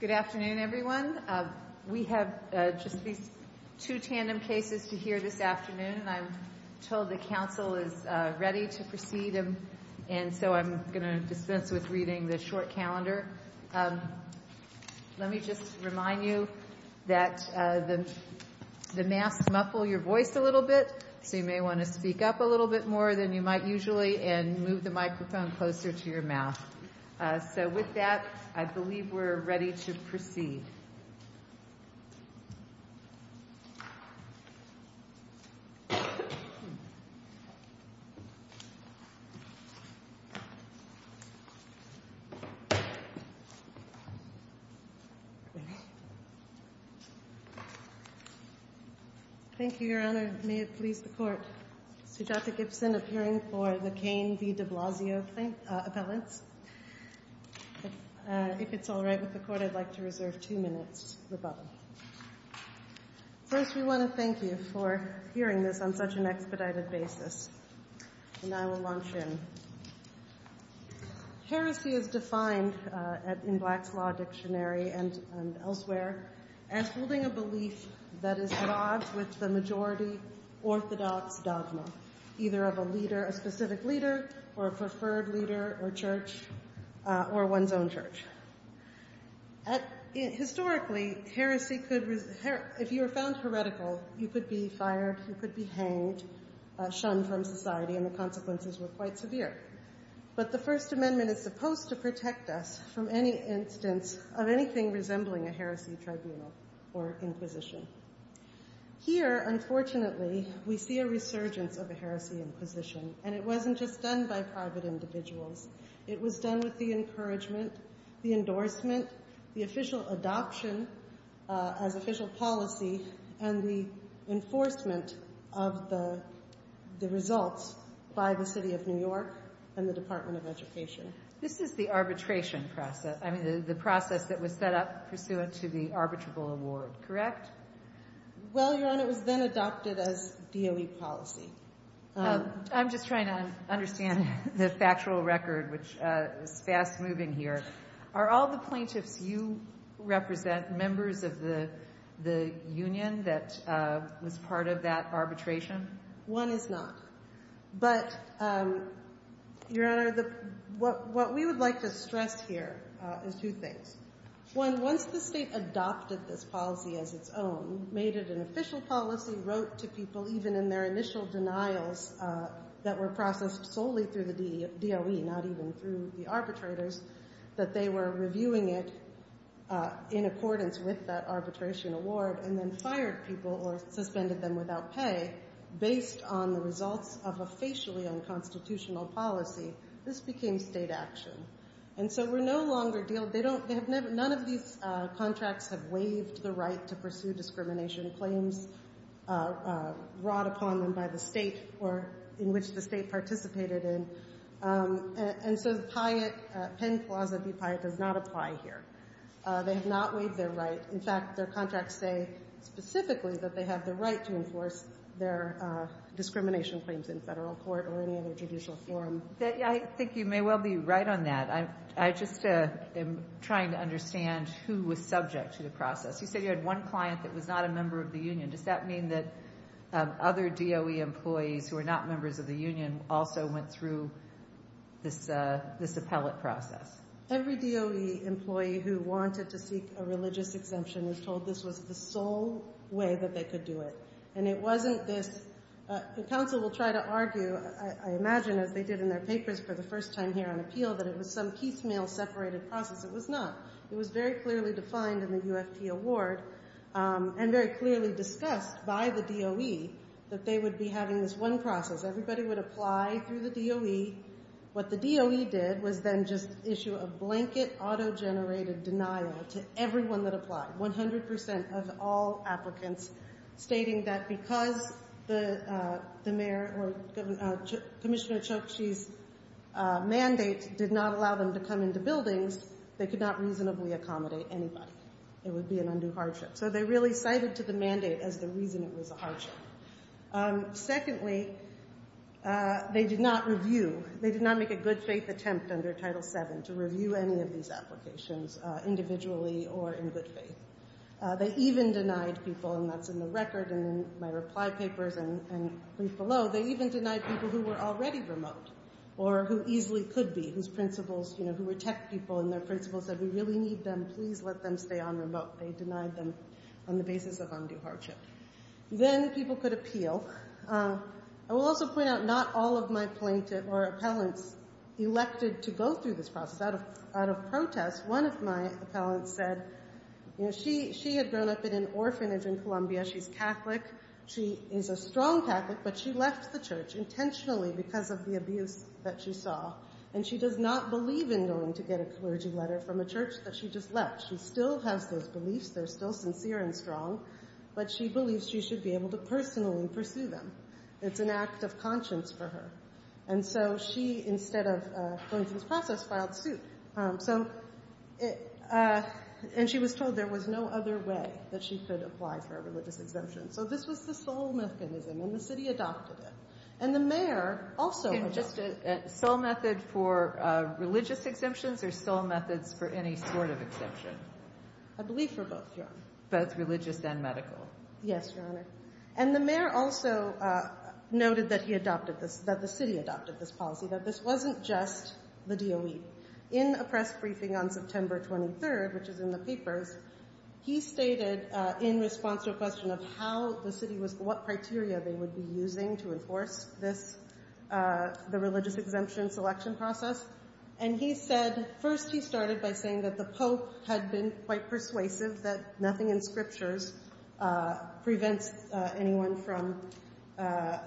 Good afternoon, everyone. We have just these two tandem cases to hear this afternoon, and I'm told the Council is ready to proceed, and so I'm going to dispense with reading the short calendar. Let me just remind you that the masks muffle your voice a little bit, so you may want to speak up a little bit more than you might usually and move the microphone closer to your mouth. So with that, I believe we're ready to proceed. Thank you, Your Honor. May it please the Court, Sujatha Gibson appearing for the Keil v. de Blasio appellants. If it's all right with the Court, I'd like to reserve two minutes rebuttal. First, we want to thank you for hearing this on such an expedited basis, and I will launch in. Heresy is defined in Black's Law Dictionary and elsewhere as holding a belief that is logged with the majority orthodox dogma, either of a leader, a specific leader, or a preferred leader or church or one's own church. Historically, if you were found heretical, you could be fired, you could be hanged, shunned from society, and the consequences were quite severe. But the First Amendment is supposed to protect us from any instance of anything resembling a heresy tribunal or inquisition. Here, unfortunately, we see a resurgence of a heresy inquisition, and it wasn't just done by private individuals. It was done with the encouragement, the endorsement, the official adoption as official policy, and the enforcement of the results by the City of New York and the Department of Education. This is the arbitration process, I mean, the process that was set up pursuant to the arbitrable award, correct? Well, Your Honor, it was then adopted as DOE policy. I'm just trying to understand the factual record, which is fast moving here. Are all the plaintiffs you represent members of the union that was part of that arbitration? One is not. But, Your Honor, what we would like to stress here is two things. One, once the state adopted this policy as its own, made it an official policy, wrote to people even in their initial denials that were processed solely through the DOE, not even through the arbitrators, that they were reviewing it in accordance with that arbitration award, and then fired people or suspended them without pay based on the results of a facially unconstitutional policy. This became state action. And so we no longer deal, they don't, none of these contracts have waived the right to pursue discrimination claims brought upon them by the state or in which the state participated in. And so the PIAT, Penn Clause v. PIAT, does not apply here. They have not waived their right. In fact, their contracts say specifically that they have the right to enforce their discrimination claims in federal court or any other judicial forum. I think you may well be right on that. I just am trying to understand who was subject to the process. You said you had one client that was not a member of the union. Does that mean that other DOE employees who are not members of the union also went through this appellate process? Every DOE employee who wanted to seek a religious exemption was told this was the sole way that they could do it. And it wasn't this, and counsel will try to argue, I imagine, as they did in their papers for the first time here on appeal, that it was some piecemeal separated process. It was not. It was very clearly defined in the UFT award and very clearly discussed by the DOE that they would be having this one process. Everybody would apply through the DOE. What the DOE did was then just issue a blanket auto-generated denial to everyone that applied, 100% of all applicants, stating that because the mayor or Commissioner Chokshi's mandate did not allow them to come into buildings, they could not reasonably accommodate anybody. It would be an undue hardship. So they really cited to the mandate as the reason it was a hardship. Secondly, they did not review. They did not make a good-faith attempt under Title VII to review any of these applications individually or in good faith. They even denied people, and that's in the record and in my reply papers and brief below, they even denied people who were already remote or who easily could be, whose principals, you know, who were tech people, and their principals said, we really need them. Please let them stay on remote. They denied them on the basis of undue hardship. Then people could appeal. I will also point out not all of my plaintiffs or appellants elected to go through this process. Out of protest, one of my appellants said, you know, she had grown up in an orphanage in Columbia. She's Catholic. She is a strong Catholic, but she left the church intentionally because of the abuse that she saw, and she does not believe in going to get a clergy letter from a church that she just left. She still has those beliefs. They're still sincere and strong, but she believes she should be able to personally pursue them. It's an act of conscience for her. And so she, instead of going through this process, filed suit. And she was told there was no other way that she could apply for a religious exemption. So this was the sole mechanism, and the city adopted it. And the mayor also adopted it. Sole method for religious exemptions or sole methods for any sort of exemption? I believe for both, Your Honor. Both religious and medical. Yes, Your Honor. And the mayor also noted that he adopted this, that the city adopted this policy, that this wasn't just the DOE. In a press briefing on September 23rd, which is in the papers, he stated in response to a question of how the city was, what criteria they would be using to enforce this, the religious exemption selection process. And he said, first he started by saying that the pope had been quite persuasive that nothing in scriptures prevents anyone from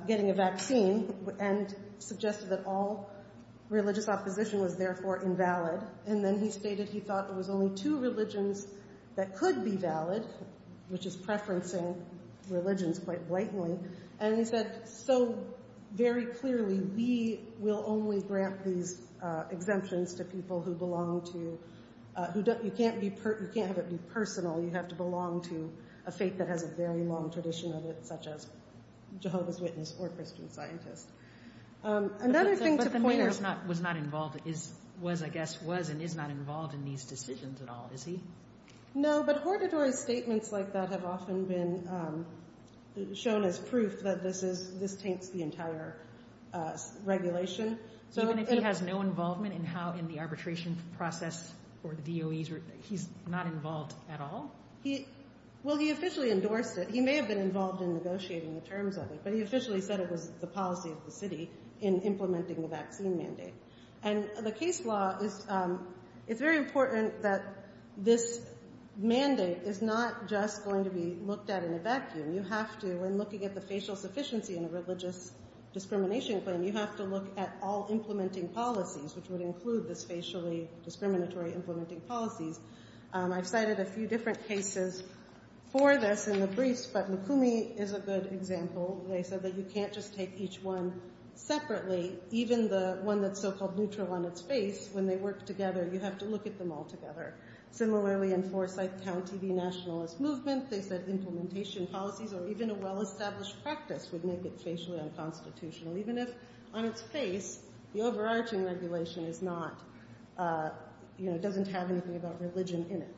getting a vaccine and suggested that all religious opposition was therefore invalid. And then he stated he thought there was only two religions that could be valid, which is preferencing religions quite blatantly. And he said, so very clearly we will only grant these exemptions to people who belong to, you can't have it be personal. You have to belong to a faith that has a very long tradition of it, such as Jehovah's Witness or Christian Scientist. Another thing to point out. But the mayor was not involved, was, I guess, was and is not involved in these decisions at all, is he? No, but Hortador's statements like that have often been shown as proof that this taints the entire regulation. So even if he has no involvement in how, in the arbitration process for the DOEs, he's not involved at all? Well, he officially endorsed it. He may have been involved in negotiating the terms of it, but he officially said it was the policy of the city in implementing the vaccine mandate. And the case law is, it's very important that this mandate is not just going to be looked at in a vacuum. You have to, when looking at the facial sufficiency in a religious discrimination claim, you have to look at all implementing policies, which would include this facially discriminatory implementing policies. I've cited a few different cases for this in the briefs, but Lukumi is a good example. They said that you can't just take each one separately, even the one that's so-called neutral on its face. When they work together, you have to look at them all together. Similarly, in Forsyth County, the nationalist movement, they said implementation policies or even a well-established practice would make it facially unconstitutional, even if on its face the overarching regulation is not, you know, doesn't have anything about religion in it.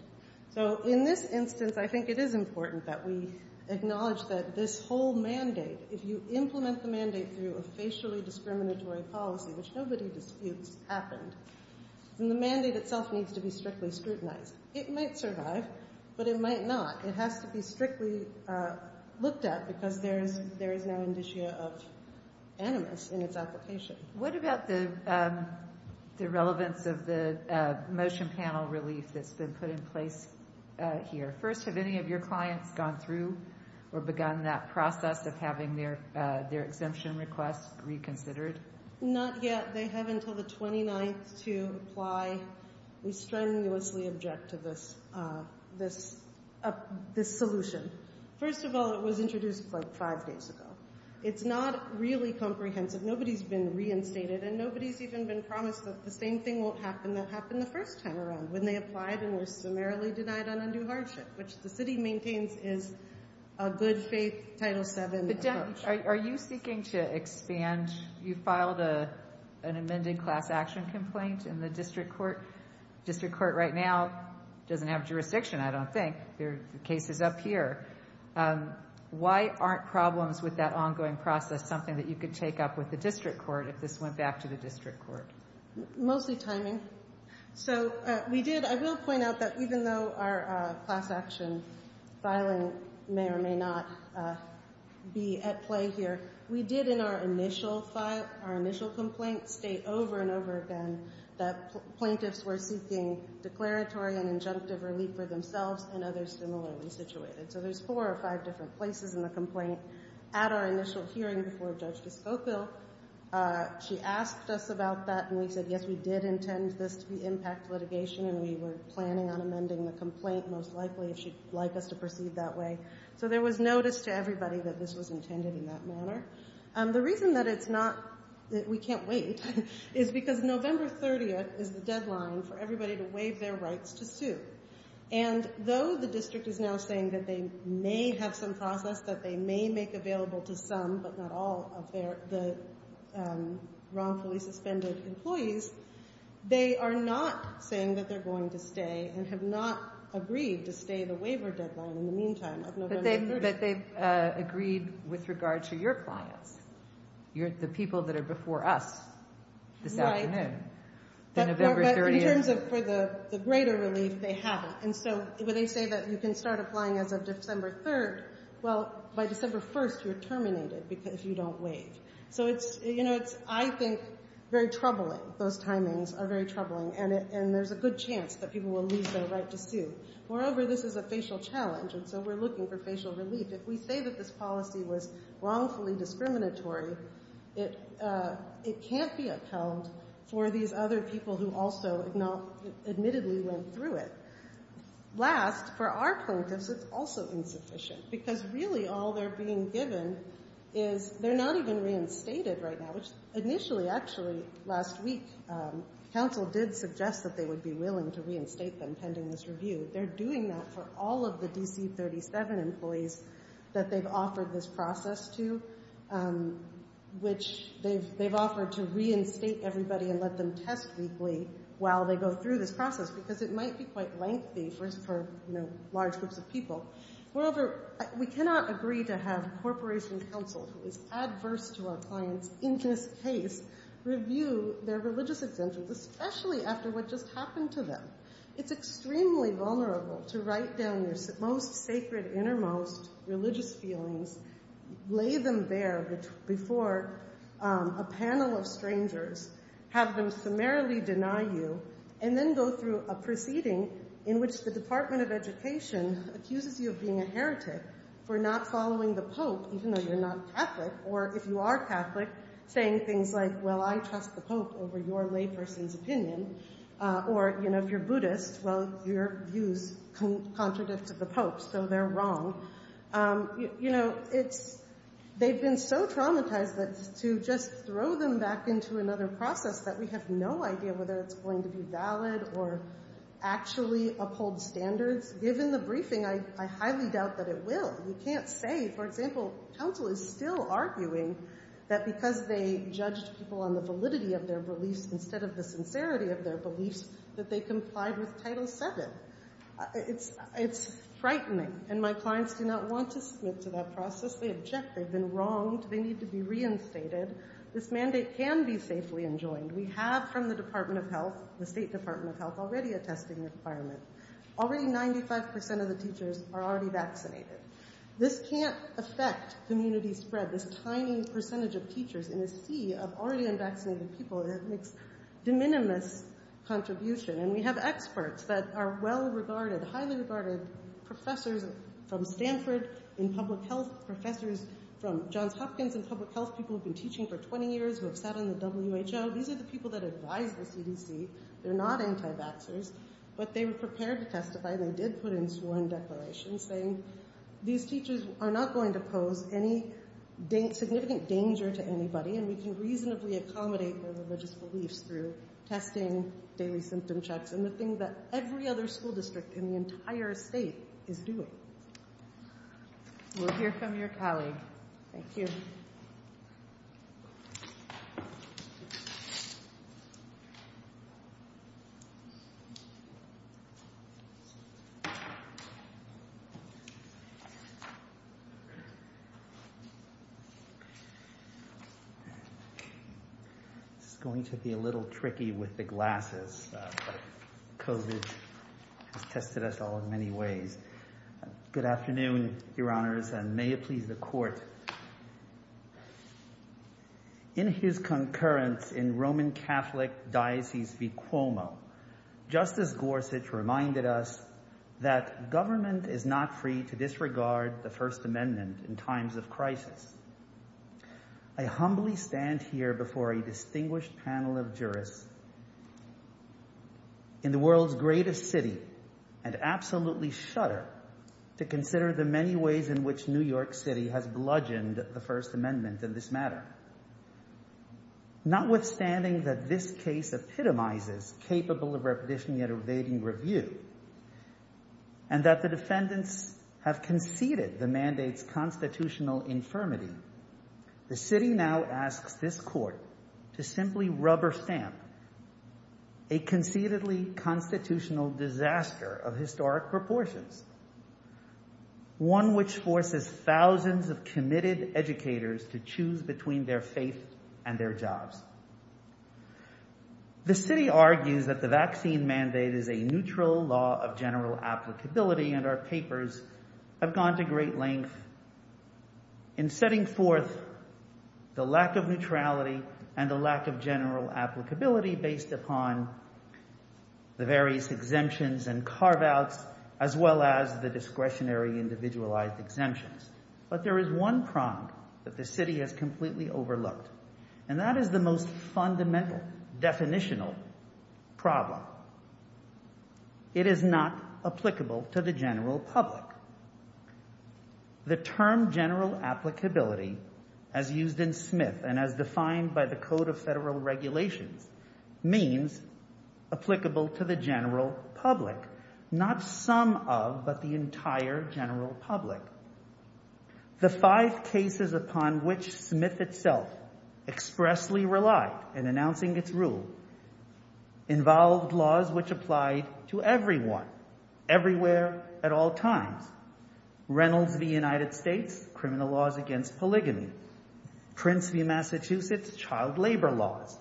So in this instance, I think it is important that we acknowledge that this whole mandate, if you implement the mandate through a facially discriminatory policy, which nobody disputes happened, then the mandate itself needs to be strictly scrutinized. It might survive, but it might not. It has to be strictly looked at because there is no indicia of animus in its application. What about the relevance of the motion panel relief that's been put in place here? First, have any of your clients gone through or begun that process of having their exemption requests reconsidered? Not yet. They have until the 29th to apply. We strenuously object to this solution. First of all, it was introduced like five days ago. It's not really comprehensive. Nobody's been reinstated, and nobody's even been promised that the same thing won't happen that happened the first time around, when they applied and were summarily denied an undue hardship, which the city maintains is a good faith Title VII. Are you seeking to expand? You filed an amended class action complaint in the district court. District court right now doesn't have jurisdiction, I don't think. The case is up here. Why aren't problems with that ongoing process something that you could take up with the district court if this went back to the district court? Mostly timing. I will point out that even though our class action filing may or may not be at play here, we did in our initial complaint state over and over again that plaintiffs were seeking declaratory and injunctive relief for themselves and others similarly situated. So there's four or five different places in the complaint. At our initial hearing before Judge Giscopo, she asked us about that. And we said, yes, we did intend this to be impact litigation, and we were planning on amending the complaint most likely if she'd like us to proceed that way. So there was notice to everybody that this was intended in that manner. The reason that it's not that we can't wait is because November 30th is the deadline for everybody to waive their rights to sue. And though the district is now saying that they may have some process that they may make available to some, but not all of the wrongfully suspended employees, they are not saying that they're going to stay and have not agreed to stay the waiver deadline in the meantime of November 30th. But they've agreed with regard to your clients, the people that are before us this afternoon. But in terms of for the greater relief, they haven't. And so when they say that you can start applying as of December 3rd, well, by December 1st, you're terminated if you don't waive. So it's, you know, it's, I think, very troubling. Those timings are very troubling, and there's a good chance that people will lose their right to sue. Moreover, this is a facial challenge, and so we're looking for facial relief. If we say that this policy was wrongfully discriminatory, it can't be upheld for these other people who also admittedly went through it. Last, for our plaintiffs, it's also insufficient because really all they're being given is they're not even reinstated right now, which initially, actually, last week, counsel did suggest that they would be willing to reinstate them pending this review. They're doing that for all of the D.C. 37 employees that they've offered this process to, which they've offered to reinstate everybody and let them test weekly while they go through this process because it might be quite lengthy for, you know, large groups of people. Moreover, we cannot agree to have corporation counsel, who is adverse to our clients in this case, review their religious exemptions, especially after what just happened to them. It's extremely vulnerable to write down your most sacred, innermost religious feelings, lay them bare before a panel of strangers, have them summarily deny you, and then go through a proceeding in which the Department of Education accuses you of being a heretic for not following the Pope, even though you're not Catholic, or if you are Catholic, saying things like, well, I trust the Pope over your layperson's opinion, or, you know, if you're Buddhist, well, your views contradict to the Pope, so they're wrong. You know, it's they've been so traumatized that to just throw them back into another process that we have no idea whether it's going to be valid or actually uphold standards. Given the briefing, I highly doubt that it will. We can't say, for example, counsel is still arguing that because they judged people on the validity of their beliefs instead of the sincerity of their beliefs, that they complied with Title VII. It's frightening, and my clients do not want to submit to that process. They object. They've been wronged. They need to be reinstated. This mandate can be safely enjoined. We have from the Department of Health, the State Department of Health, already a testing requirement. Already 95% of the teachers are already vaccinated. This can't affect community spread, this tiny percentage of teachers in a sea of already unvaccinated people. It makes de minimis contribution, and we have experts that are well regarded, highly regarded professors from Stanford in public health, professors from Johns Hopkins in public health, people who've been teaching for 20 years, who have sat on the WHO. These are the people that advise the CDC. They're not anti-vaxxers, but they were prepared to testify. They did put in sworn declarations saying these teachers are not going to pose any significant danger to anybody, and we can reasonably accommodate their religious beliefs through testing, daily symptom checks, and the thing that every other school district in the entire state is doing. We'll hear from your colleague. Thank you. This is going to be a little tricky with the glasses. COVID has tested us all in many ways. Good afternoon, Your Honors, and may it please the Court. In his concurrence in Roman Catholic Diocese of Cuomo, Justice Gorsuch reminded us that government is not free to disregard the First Amendment in times of crisis. I humbly stand here before a distinguished panel of jurists in the world's greatest city and absolutely shudder to consider the many ways in which New York City has bludgeoned the First Amendment in this matter. Notwithstanding that this case epitomizes capable of repetition yet evading review, and that the defendants have conceded the mandate's constitutional infirmity, the city now asks this Court to simply rubber stamp a conceitedly constitutional disaster of historic proportions, one which forces thousands of committed educators to choose between their faith and their jobs. The city argues that the vaccine mandate is a neutral law of general applicability, and our papers have gone to great length in setting forth the lack of neutrality and the lack of general applicability based upon the various exemptions and carve-outs, as well as the discretionary individualized exemptions. But there is one prong that the city has completely overlooked, and that is the most fundamental, definitional problem. It is not applicable to the general public. The term general applicability, as used in Smith and as defined by the Code of Federal Regulations, means applicable to the general public, not some of, but the entire general public. The five cases upon which Smith itself expressly relied in announcing its rule involved laws which applied to everyone, everywhere, at all times. Reynolds v. United States, criminal laws against polygamy. Prince v. Massachusetts, child labor laws.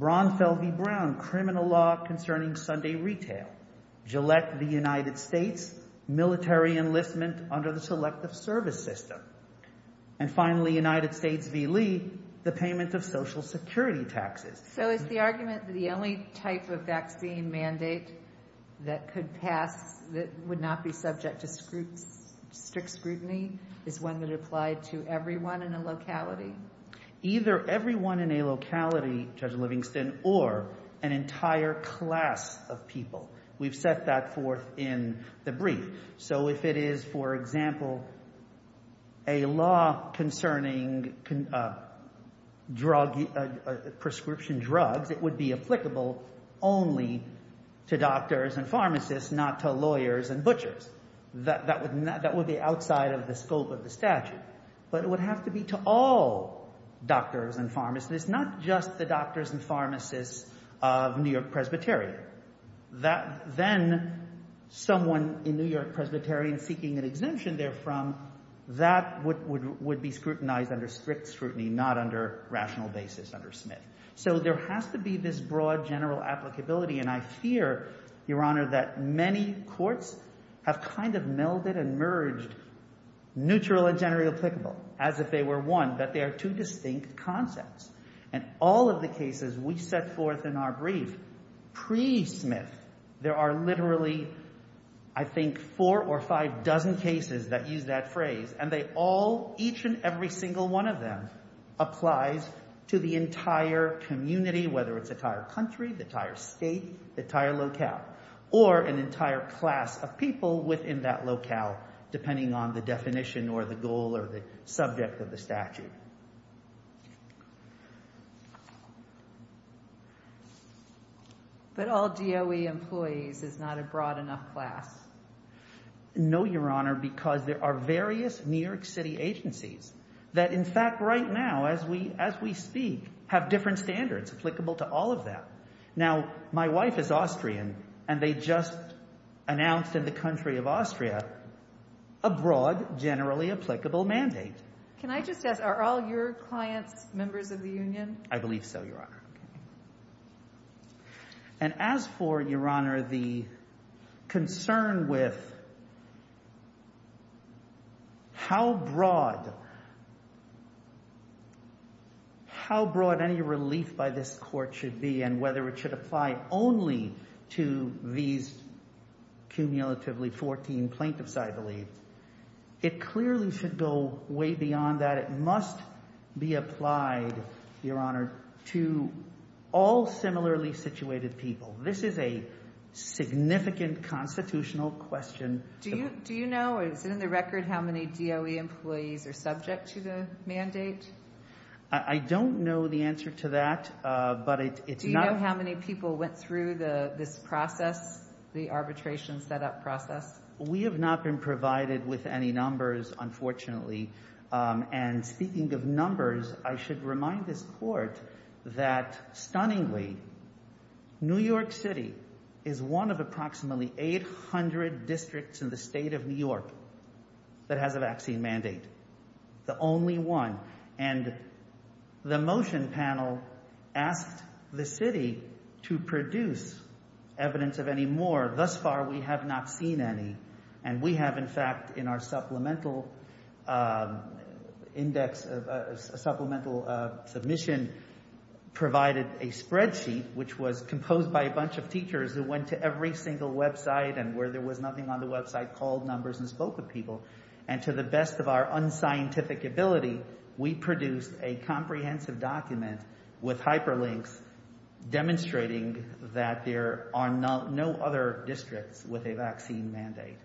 Braunfeld v. Brown, criminal law concerning Sunday retail. Gillette v. United States, military enlistment under the Selective Service System. And finally, United States v. Lee, the payment of Social Security taxes. So is the argument that the only type of vaccine mandate that could pass, that would not be subject to strict scrutiny, is one that applied to everyone in a locality? Either everyone in a locality, Judge Livingston, or an entire class of people. We've set that forth in the brief. So if it is, for example, a law concerning prescription drugs, it would be applicable only to doctors and pharmacists, not to lawyers and butchers. That would be outside of the scope of the statute. But it would have to be to all doctors and pharmacists, not just the doctors and pharmacists of New York Presbyterian. Then someone in New York Presbyterian seeking an exemption therefrom, that would be scrutinized under strict scrutiny, not under rational basis under Smith. So there has to be this broad general applicability, and I fear, Your Honor, that many courts have kind of melded and merged neutral and generally applicable, as if they were one, but they are two distinct concepts. And all of the cases we set forth in our brief pre-Smith, there are literally, I think, four or five dozen cases that use that phrase, and they all, each and every single one of them, applies to the entire community, whether it's the entire country, the entire state, the entire locale, or an entire class of people within that locale, depending on the definition or the goal or the subject of the statute. But all DOE employees is not a broad enough class. No, Your Honor, because there are various New York City agencies that, in fact, right now, as we speak, have different standards applicable to all of them. Now, my wife is Austrian, and they just announced in the country of Austria a broad, generally applicable mandate. Can I just ask, are all your clients members of the union? I believe so, Your Honor. And as for, Your Honor, the concern with how broad any relief by this court should be and whether it should apply only to these cumulatively 14 plaintiffs, I believe, it clearly should go way beyond that. It must be applied, Your Honor, to all similarly situated people. This is a significant constitutional question. Do you know, or is it in the record, how many DOE employees are subject to the mandate? I don't know the answer to that. Do you know how many people went through this process, the arbitration setup process? We have not been provided with any numbers, unfortunately. And speaking of numbers, I should remind this court that, stunningly, New York City is one of approximately 800 districts in the state of New York that has a vaccine mandate. The only one. And the motion panel asked the city to produce evidence of any more. Thus far, we have not seen any. And we have, in fact, in our supplemental index, supplemental submission, provided a spreadsheet which was composed by a bunch of teachers who went to every single website and where there was nothing on the website, called numbers and spoke with people. And to the best of our unscientific ability, we produced a comprehensive document with hyperlinks demonstrating that there are no other districts with a vaccine mandate.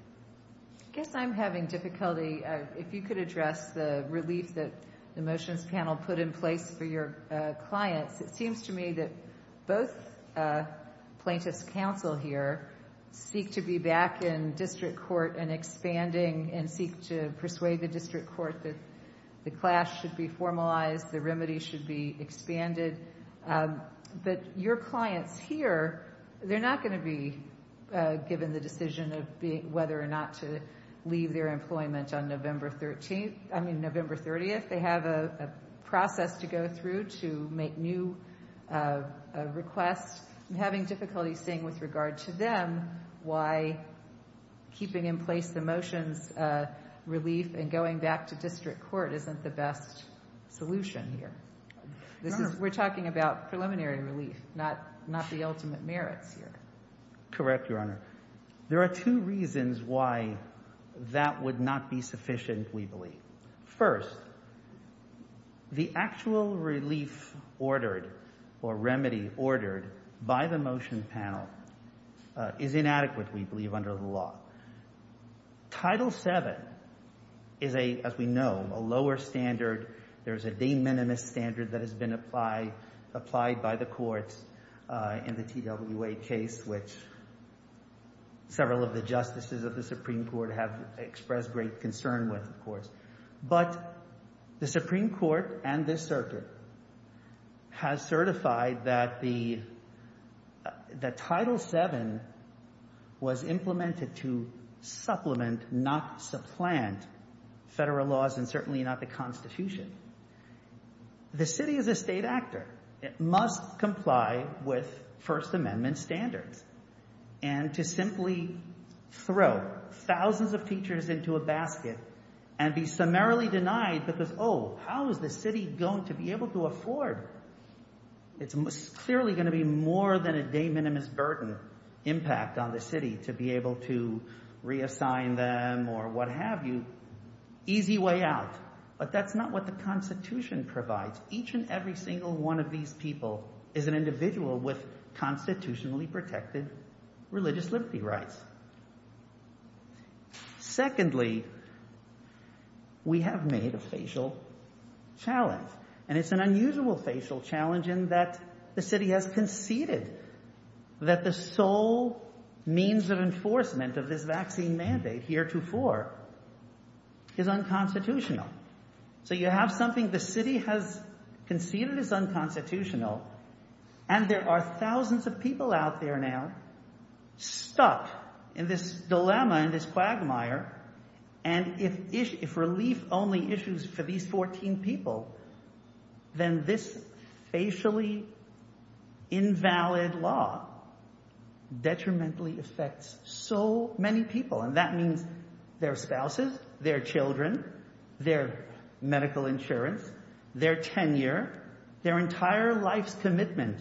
I guess I'm having difficulty. If you could address the relief that the motions panel put in place for your clients, it seems to me that both plaintiffs' counsel here seek to be back in district court and expanding and seek to persuade the district court that the clash should be formalized, the remedy should be expanded. But your clients here, they're not going to be given the decision of whether or not to leave their employment on November 30th. They have a process to go through to make new requests. I'm having difficulty seeing with regard to them why keeping in place the motions relief and going back to district court isn't the best solution here. We're talking about preliminary relief, not the ultimate merits here. Correct, Your Honor. There are two reasons why that would not be sufficient, we believe. First, the actual relief ordered or remedy ordered by the motion panel is inadequate, we believe, under the law. Title VII is, as we know, a lower standard. There is a de minimis standard that has been applied by the courts in the TWA case, which several of the justices of the Supreme Court have expressed great concern with, of course. But the Supreme Court and this circuit has certified that Title VII was implemented to supplement, not supplant, federal laws and certainly not the Constitution. The city is a state actor. It must comply with First Amendment standards. And to simply throw thousands of teachers into a basket and be summarily denied because, oh, how is the city going to be able to afford? It's clearly going to be more than a de minimis burden impact on the city to be able to reassign them or what have you. Easy way out. But that's not what the Constitution provides. Each and every single one of these people is an individual with constitutionally protected religious liberty rights. Secondly, we have made a facial challenge. And it's an unusual facial challenge in that the city has conceded that the sole means of enforcement of this vaccine mandate heretofore is unconstitutional. So you have something the city has conceded is unconstitutional and there are thousands of people out there now stuck in this dilemma, in this quagmire. And if relief only issues for these 14 people, then this facially invalid law detrimentally affects so many people. And that means their spouses, their children, their medical insurance, their tenure, their entire life's commitment,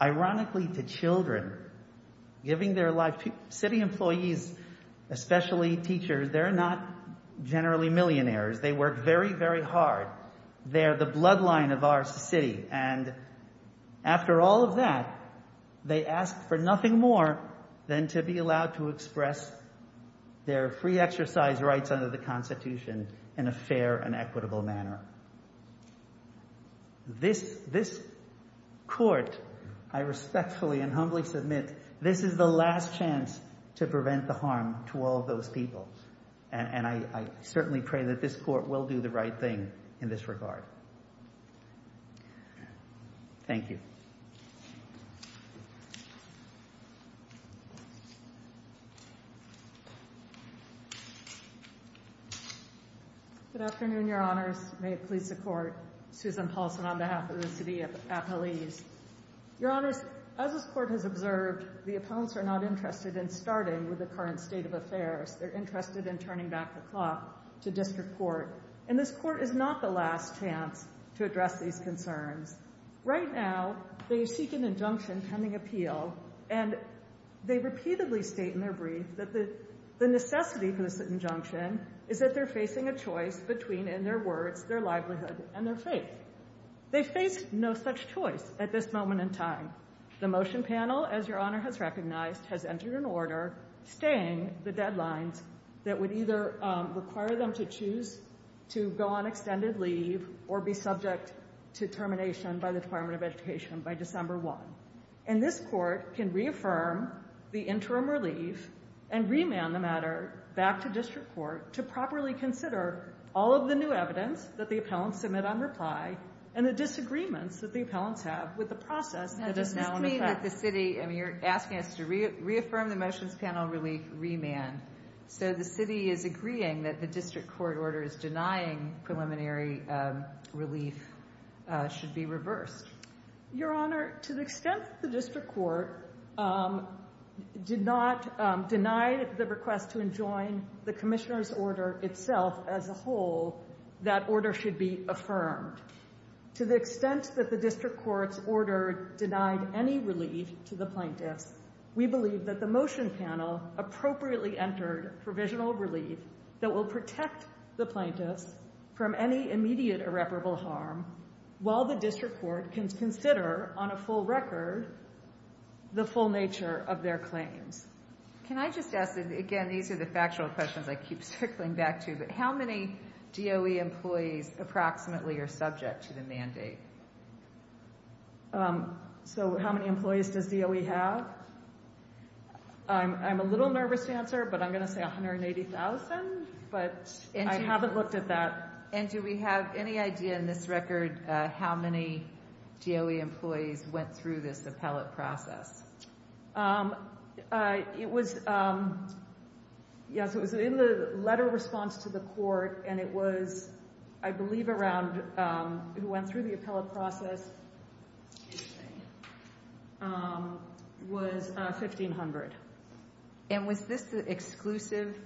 ironically, to children, giving their life to city employees, especially teachers. They're not generally millionaires. They work very, very hard. They're the bloodline of our city. And after all of that, they ask for nothing more than to be allowed to express their free exercise rights under the Constitution in a fair and equitable manner. This court, I respectfully and humbly submit, this is the last chance to prevent the harm to all of those people. And I certainly pray that this court will do the right thing in this regard. Thank you. Good afternoon, Your Honors. May it please the Court. Susan Paulson on behalf of the city of Appalachia. Your Honors, as this Court has observed, they're interested in turning back the clock to district court. And this Court is not the last chance to address these concerns. Right now, they seek an injunction pending appeal, and they repeatedly state in their brief that the necessity for this injunction is that they're facing a choice between, in their words, their livelihood and their faith. They face no such choice at this moment in time. The motion panel, as Your Honor has recognized, has entered an order staying the deadlines that would either require them to choose to go on extended leave or be subject to termination by the Department of Education by December 1. And this Court can reaffirm the interim relief and remand the matter back to district court to properly consider all of the new evidence that the appellants submit on reply and the disagreements that the appellants have with the process that is now in effect. You're asking us to reaffirm the motions panel relief remand. So the city is agreeing that the district court order is denying preliminary relief should be reversed. Your Honor, to the extent that the district court did not deny the request to enjoin the commissioner's order itself as a whole, that order should be affirmed. To the extent that the district court's order denied any relief to the plaintiffs, we believe that the motion panel appropriately entered provisional relief that will protect the plaintiffs from any immediate irreparable harm while the district court can consider on a full record the full nature of their claims. Can I just ask, again, these are the factual questions I keep circling back to, but how many DOE employees approximately are subject to the mandate? So how many employees does DOE have? I'm a little nervous to answer, but I'm going to say 180,000, but I haven't looked at that. And do we have any idea in this record how many DOE employees went through this appellate process? It was in the letter of response to the court, and it was, I believe, around, who went through the appellate process was 1,500. And was this the exclusive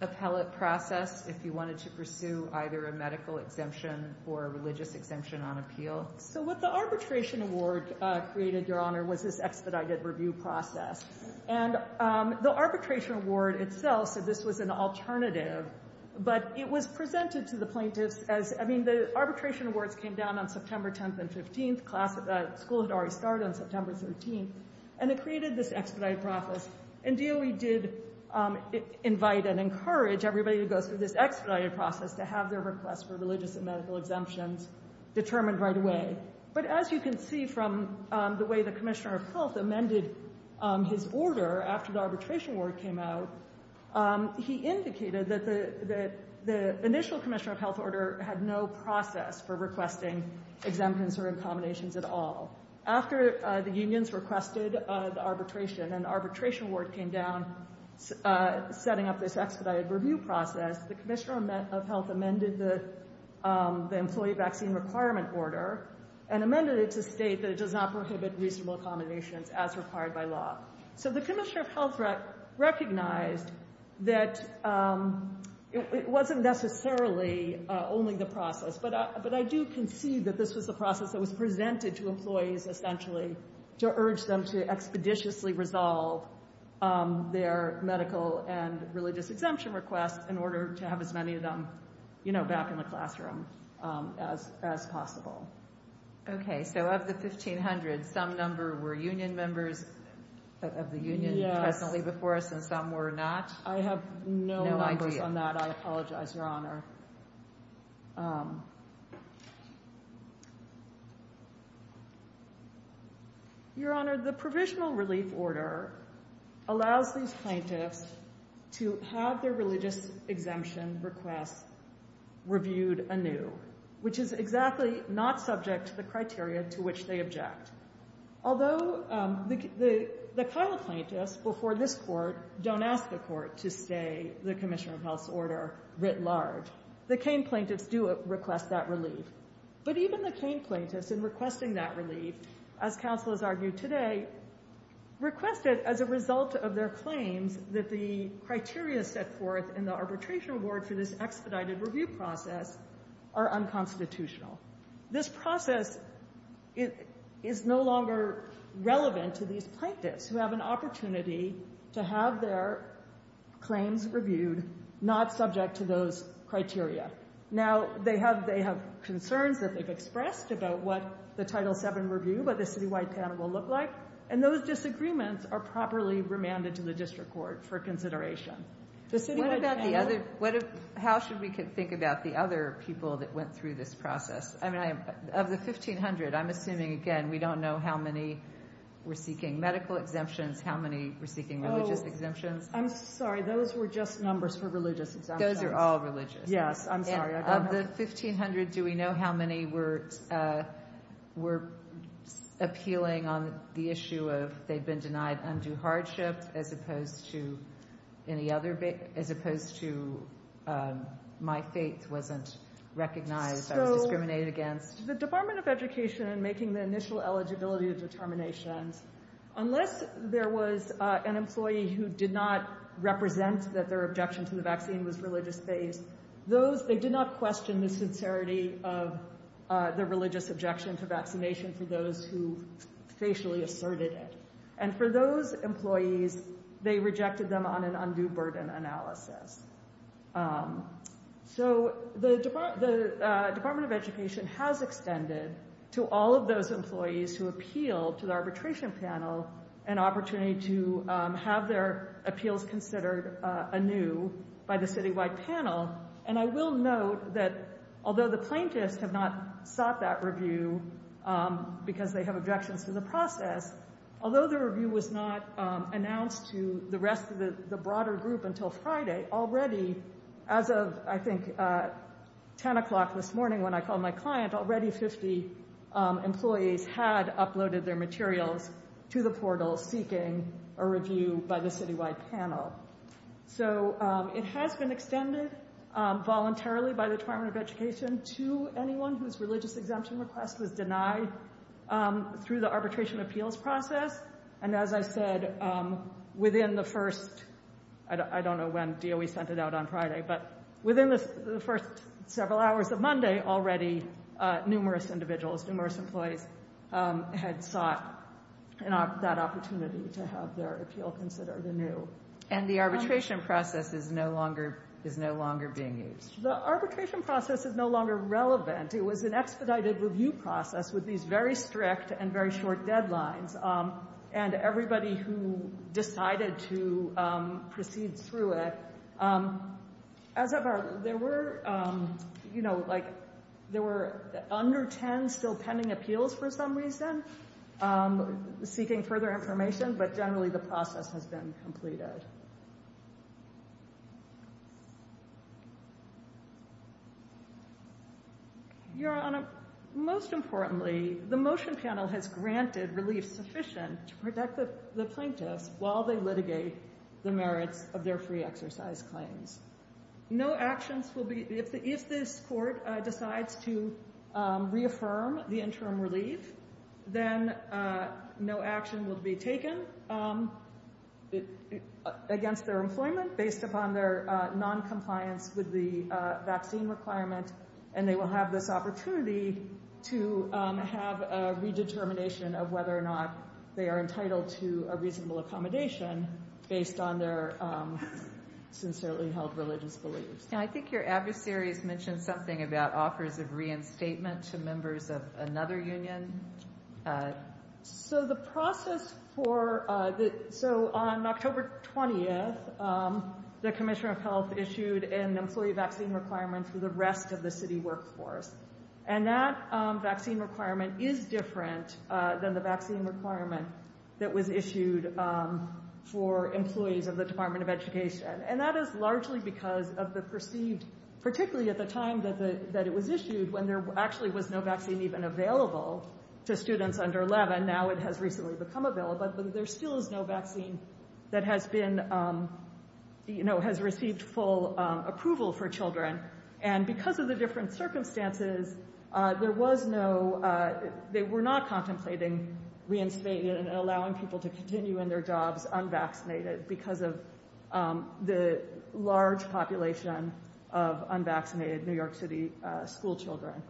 appellate process if you wanted to pursue either a medical exemption or a religious exemption on appeal? So what the arbitration award created, Your Honor, was this expedited review process. And the arbitration award itself said this was an alternative, but it was presented to the plaintiffs as, I mean, the arbitration awards came down on September 10th and 15th. The school had already started on September 13th, and it created this expedited process. And DOE did invite and encourage everybody who goes through this expedited process to have their request for religious and medical exemptions determined right away. But as you can see from the way the Commissioner of Health amended his order after the arbitration award came out, he indicated that the initial Commissioner of Health order had no process for requesting exemptions or incombinations at all. After the unions requested the arbitration and the arbitration award came down setting up this expedited review process, the Commissioner of Health amended the employee vaccine requirement order and amended it to state that it does not prohibit reasonable accommodations as required by law. So the Commissioner of Health recognized that it wasn't necessarily only the process, but I do concede that this was the process that was presented to employees essentially to urge them to expeditiously resolve their medical and religious exemption requests in order to have as many of them back in the classroom as possible. OK, so of the 1,500, some number were union members of the union presently before us and some were not. I have no numbers on that. I apologize, Your Honor. Your Honor, the provisional relief order allows these plaintiffs to have their religious exemption requests reviewed anew, which is exactly not subject to the criteria to which they object. Although the Kyle plaintiffs before this court don't ask the court to stay the Commissioner of Health's order writ large, the Cain plaintiffs do request that relief. But even the Cain plaintiffs in requesting that relief, as counsel has argued today, requested as a result of their claims that the criteria set forth in the arbitration award for this expedited review process are unconstitutional. This process is no longer relevant to these plaintiffs who have an opportunity to have their claims reviewed, not subject to those criteria. Now, they have concerns that they've expressed about what the Title VII review, what the citywide panel will look like. And those disagreements are properly remanded to the district court for consideration. What about the other? How should we think about the other people that went through this process? Of the 1,500, I'm assuming, again, we don't know how many were seeking medical exemptions, how many were seeking religious exemptions. I'm sorry. Those were just numbers for religious exemptions. Those are all religious. Yes, I'm sorry. Of the 1,500, do we know how many were appealing on the issue of they'd been denied undue hardship, as opposed to my faith wasn't recognized, I was discriminated against? The Department of Education, in making the initial eligibility determinations, unless there was an employee who did not represent that their objection to the vaccine was religious-based, they did not question the sincerity of the religious objection to vaccination for those who facially asserted it. And for those employees, they rejected them on an undue burden analysis. So the Department of Education has extended to all of those employees who appealed to the arbitration panel an opportunity to have their appeals considered anew by the citywide panel. And I will note that, although the plaintiffs have not sought that review because they have objections to the process, although the review was not announced to the rest of the broader group until Friday, already, as of, I think, 10 o'clock this morning when I called my client, already 50 employees had uploaded their materials to the portal seeking a review by the citywide panel. So it has been extended voluntarily by the Department of Education to anyone whose religious exemption request was denied through the arbitration appeals process. And as I said, within the first, I don't know when DOE sent it out on Friday, but within the first several hours of Monday, already numerous individuals, numerous employees had sought that opportunity to have their appeal considered anew. And the arbitration process is no longer being used. The arbitration process is no longer relevant. It was an expedited review process with these very strict and very short deadlines. And everybody who decided to proceed through it, as of our, there were, you know, like, there were under 10 still pending appeals for some reason seeking further information. But generally, the process has been completed. Your Honor, most importantly, the motion panel has granted relief sufficient to protect the plaintiffs while they litigate the merits of their free exercise claims. No actions will be, if this court decides to reaffirm the interim relief, then no action will be taken against their employment based upon their noncompliance with the vaccine requirement. And they will have this opportunity to have a redetermination of whether or not they are entitled to a reasonable accommodation based on their sincerely held religious beliefs. I think your adversaries mentioned something about offers of reinstatement to members of another union. So the process for the, so on October 20th, the Commissioner of Health issued an employee vaccine requirement for the rest of the city workforce. And that vaccine requirement is different than the vaccine requirement that was issued for employees of the Department of Education. And that is largely because of the perceived, particularly at the time that it was issued, when there actually was no vaccine even available to students under 11, now it has recently become available, but there still is no vaccine that has been, you know, has received full approval for children. And because of the different circumstances, there was no, they were not contemplating reinstating it and allowing people to continue in their jobs unvaccinated because of the large population of unvaccinated New York City school children.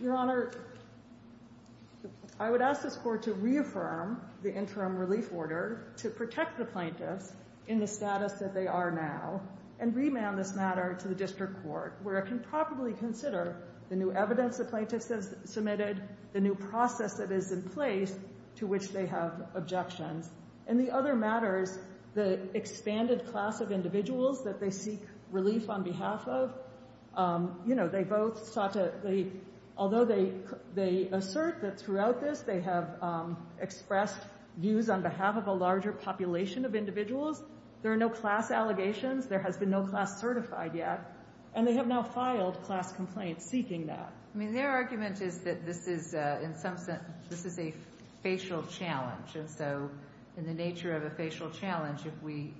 Your Honor, I would ask this Court to reaffirm the interim relief order to protect the plaintiffs in the status that they are now, and remand this matter to the District Court, where it can probably consider the new evidence the plaintiffs have submitted, the new process that is in place to which they have objections. In the other matters, the expanded class of individuals that they seek relief on behalf of, you know, they both sought to, although they assert that throughout this they have expressed views on behalf of a larger population of individuals, there are no class allegations, there has been no class certified yet, and they have now filed class complaints seeking that. I mean, their argument is that this is, in some sense, this is a facial challenge, and so in the nature of a facial challenge, if we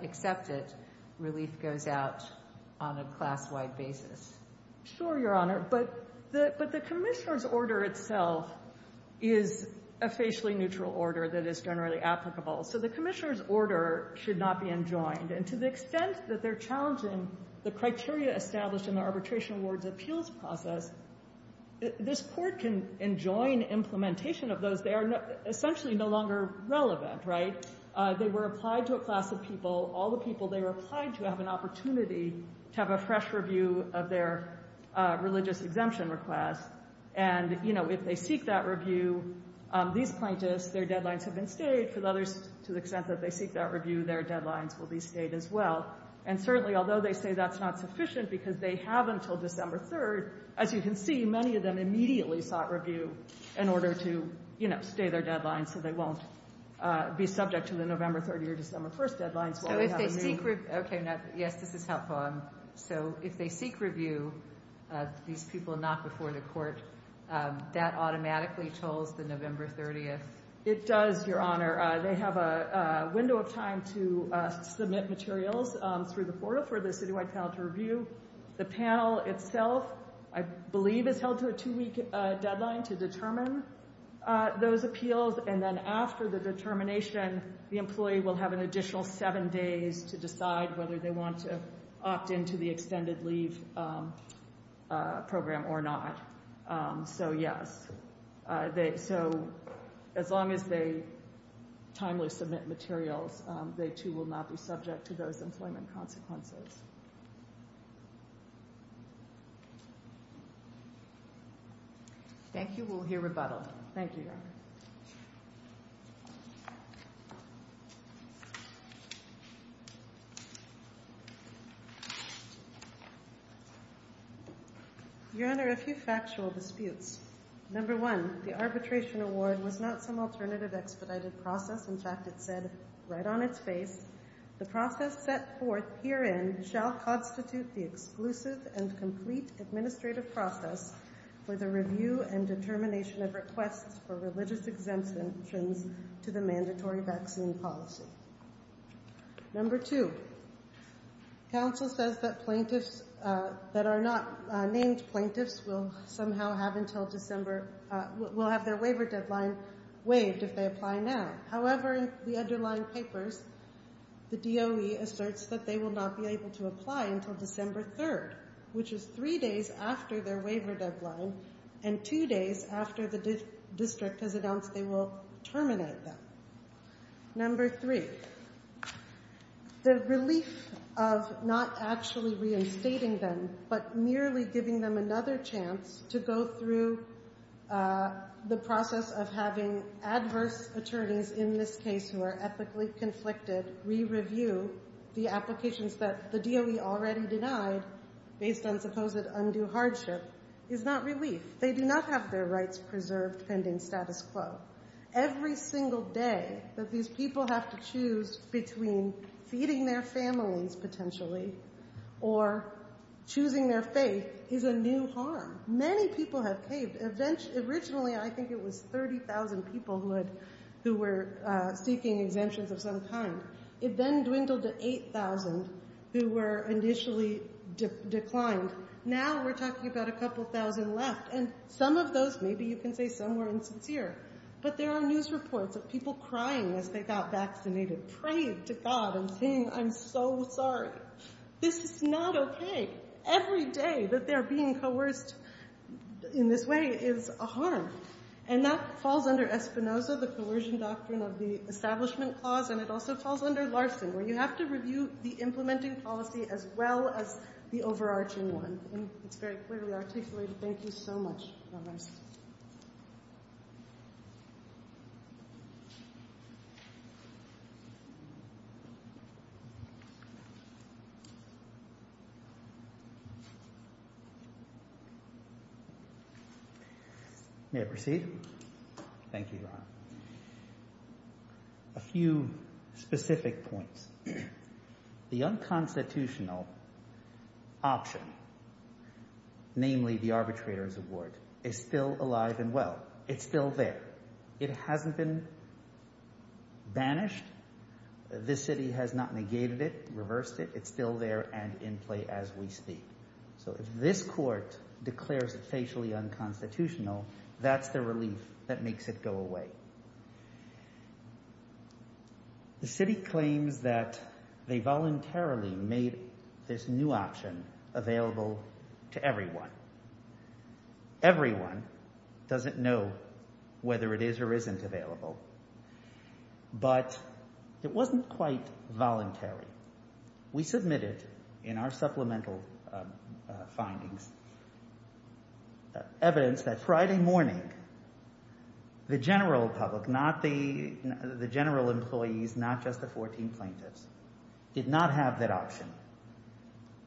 accept it, relief goes out on a class-wide basis. Sure, Your Honor, but the Commissioner's order itself is a facially neutral order that is generally applicable, so the Commissioner's order should not be enjoined, and to the extent that they're challenging the criteria established in the Arbitration Awards and the appeals process, this Court can enjoin implementation of those. They are essentially no longer relevant, right? They were applied to a class of people. All the people they were applied to have an opportunity to have a fresh review of their religious exemption request, and, you know, if they seek that review, these plaintiffs, their deadlines have been stayed. For the others, to the extent that they seek that review, their deadlines will be stayed as well. And certainly, although they say that's not sufficient because they have until December 3rd, as you can see, many of them immediately sought review in order to, you know, stay their deadlines so they won't be subject to the November 30th or December 1st deadlines. So if they seek review... Okay, yes, this is helpful. So if they seek review, these people not before the Court, that automatically tolls the November 30th. It does, Your Honor. They have a window of time to submit materials through the portal for the citywide panel to review. The panel itself, I believe, has held to a two-week deadline to determine those appeals, and then after the determination, the employee will have an additional seven days to decide whether they want to opt in to the extended leave program or not. So, yes. So as long as they timely submit materials, they too will not be subject to those employment consequences. Thank you. We'll hear rebuttal. Thank you, Your Honor. Your Honor, a few factual disputes. Number one, the arbitration award was not some alternative expedited process. In fact, it said right on its face, the process set forth herein shall constitute the exclusive and complete administrative process for the review and determination of requests for religious exemptions to the mandatory vaccine policy. Number two, counsel says that plaintiffs that are not named plaintiffs will somehow have until December... will have their waiver deadline waived if they apply now. However, in the underlying papers, the DOE asserts that they will not be able to apply until December 3rd, which is three days after their waiver deadline and two days after the district has announced they will terminate them. Number three, the relief of not actually reinstating them but merely giving them another chance to go through the process of having adverse attorneys in this case who are ethically conflicted re-review the applications that the DOE already denied based on supposed undue hardship is not relief. They do not have their rights preserved pending status quo. Every single day that these people have to choose between feeding their families, potentially, or choosing their faith is a new harm. Many people have paved... Originally, I think it was 30,000 people who were seeking exemptions of some kind. It then dwindled to 8,000 who were initially declined. Now we're talking about a couple thousand left, and some of those, maybe you can say some were insincere. But there are news reports of people crying as they got vaccinated, praying to God and saying, I'm so sorry. This is not okay. Every day that they're being coerced in this way is a harm. And that falls under Espinoza, the coercion doctrine of the Establishment Clause, and it also falls under Larson, where you have to review the implementing policy as well as the overarching one. It's very clearly articulated. Thank you so much. May I proceed? Thank you, Your Honor. A few specific points. The unconstitutional option, namely the arbitrator's award, is still alive and well. It's still there. It hasn't been banished. This city has not negated it, reversed it. It's still there and in play as we speak. So if this court declares it facially unconstitutional, that's the relief that makes it go away. The city claims that they voluntarily made this new option available to everyone. Everyone doesn't know whether it is or isn't available. But it wasn't quite voluntary. We submitted in our supplemental findings evidence that Friday morning, the general public, not the general employees, not just the 14 plaintiffs, did not have that option.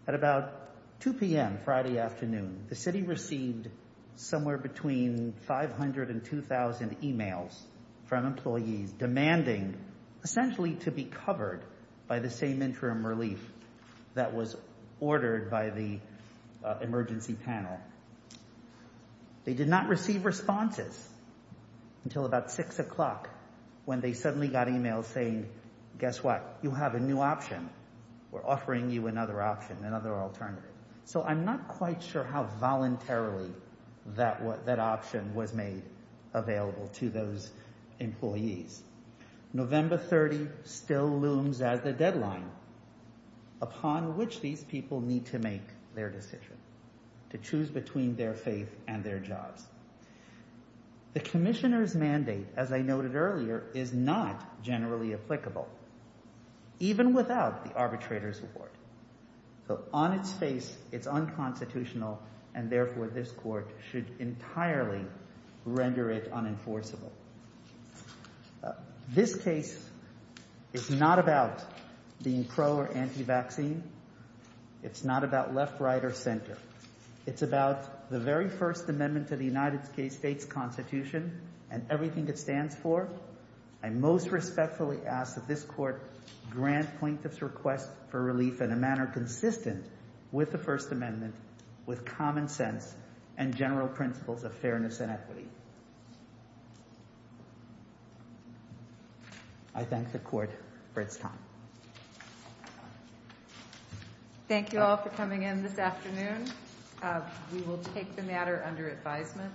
At about 2 p.m. Friday afternoon, the city received somewhere between 500 and 2,000 e-mails from employees demanding essentially to be covered by the same interim relief that was ordered by the emergency panel. They did not receive responses until about 6 o'clock when they suddenly got e-mails saying, guess what, you have a new option. We're offering you another option, another alternative. So I'm not quite sure how voluntarily that option was made available to those employees. November 30 still looms as the deadline upon which these people need to make their decision, to choose between their faith and their jobs. The commissioner's mandate, as I noted earlier, is not generally applicable, even without the arbitrator's report. So on its face, it's unconstitutional, and therefore this court should entirely render it unenforceable. This case is not about being pro or anti-vaccine. It's not about left, right, or center. It's about the very First Amendment to the United States Constitution and everything it stands for. I most respectfully ask that this court grant plaintiffs' request for relief in a manner consistent with the First Amendment, with common sense and general principles of fairness and equity. I thank the court for its time. Thank you all for coming in this afternoon. We will take the matter under advisement.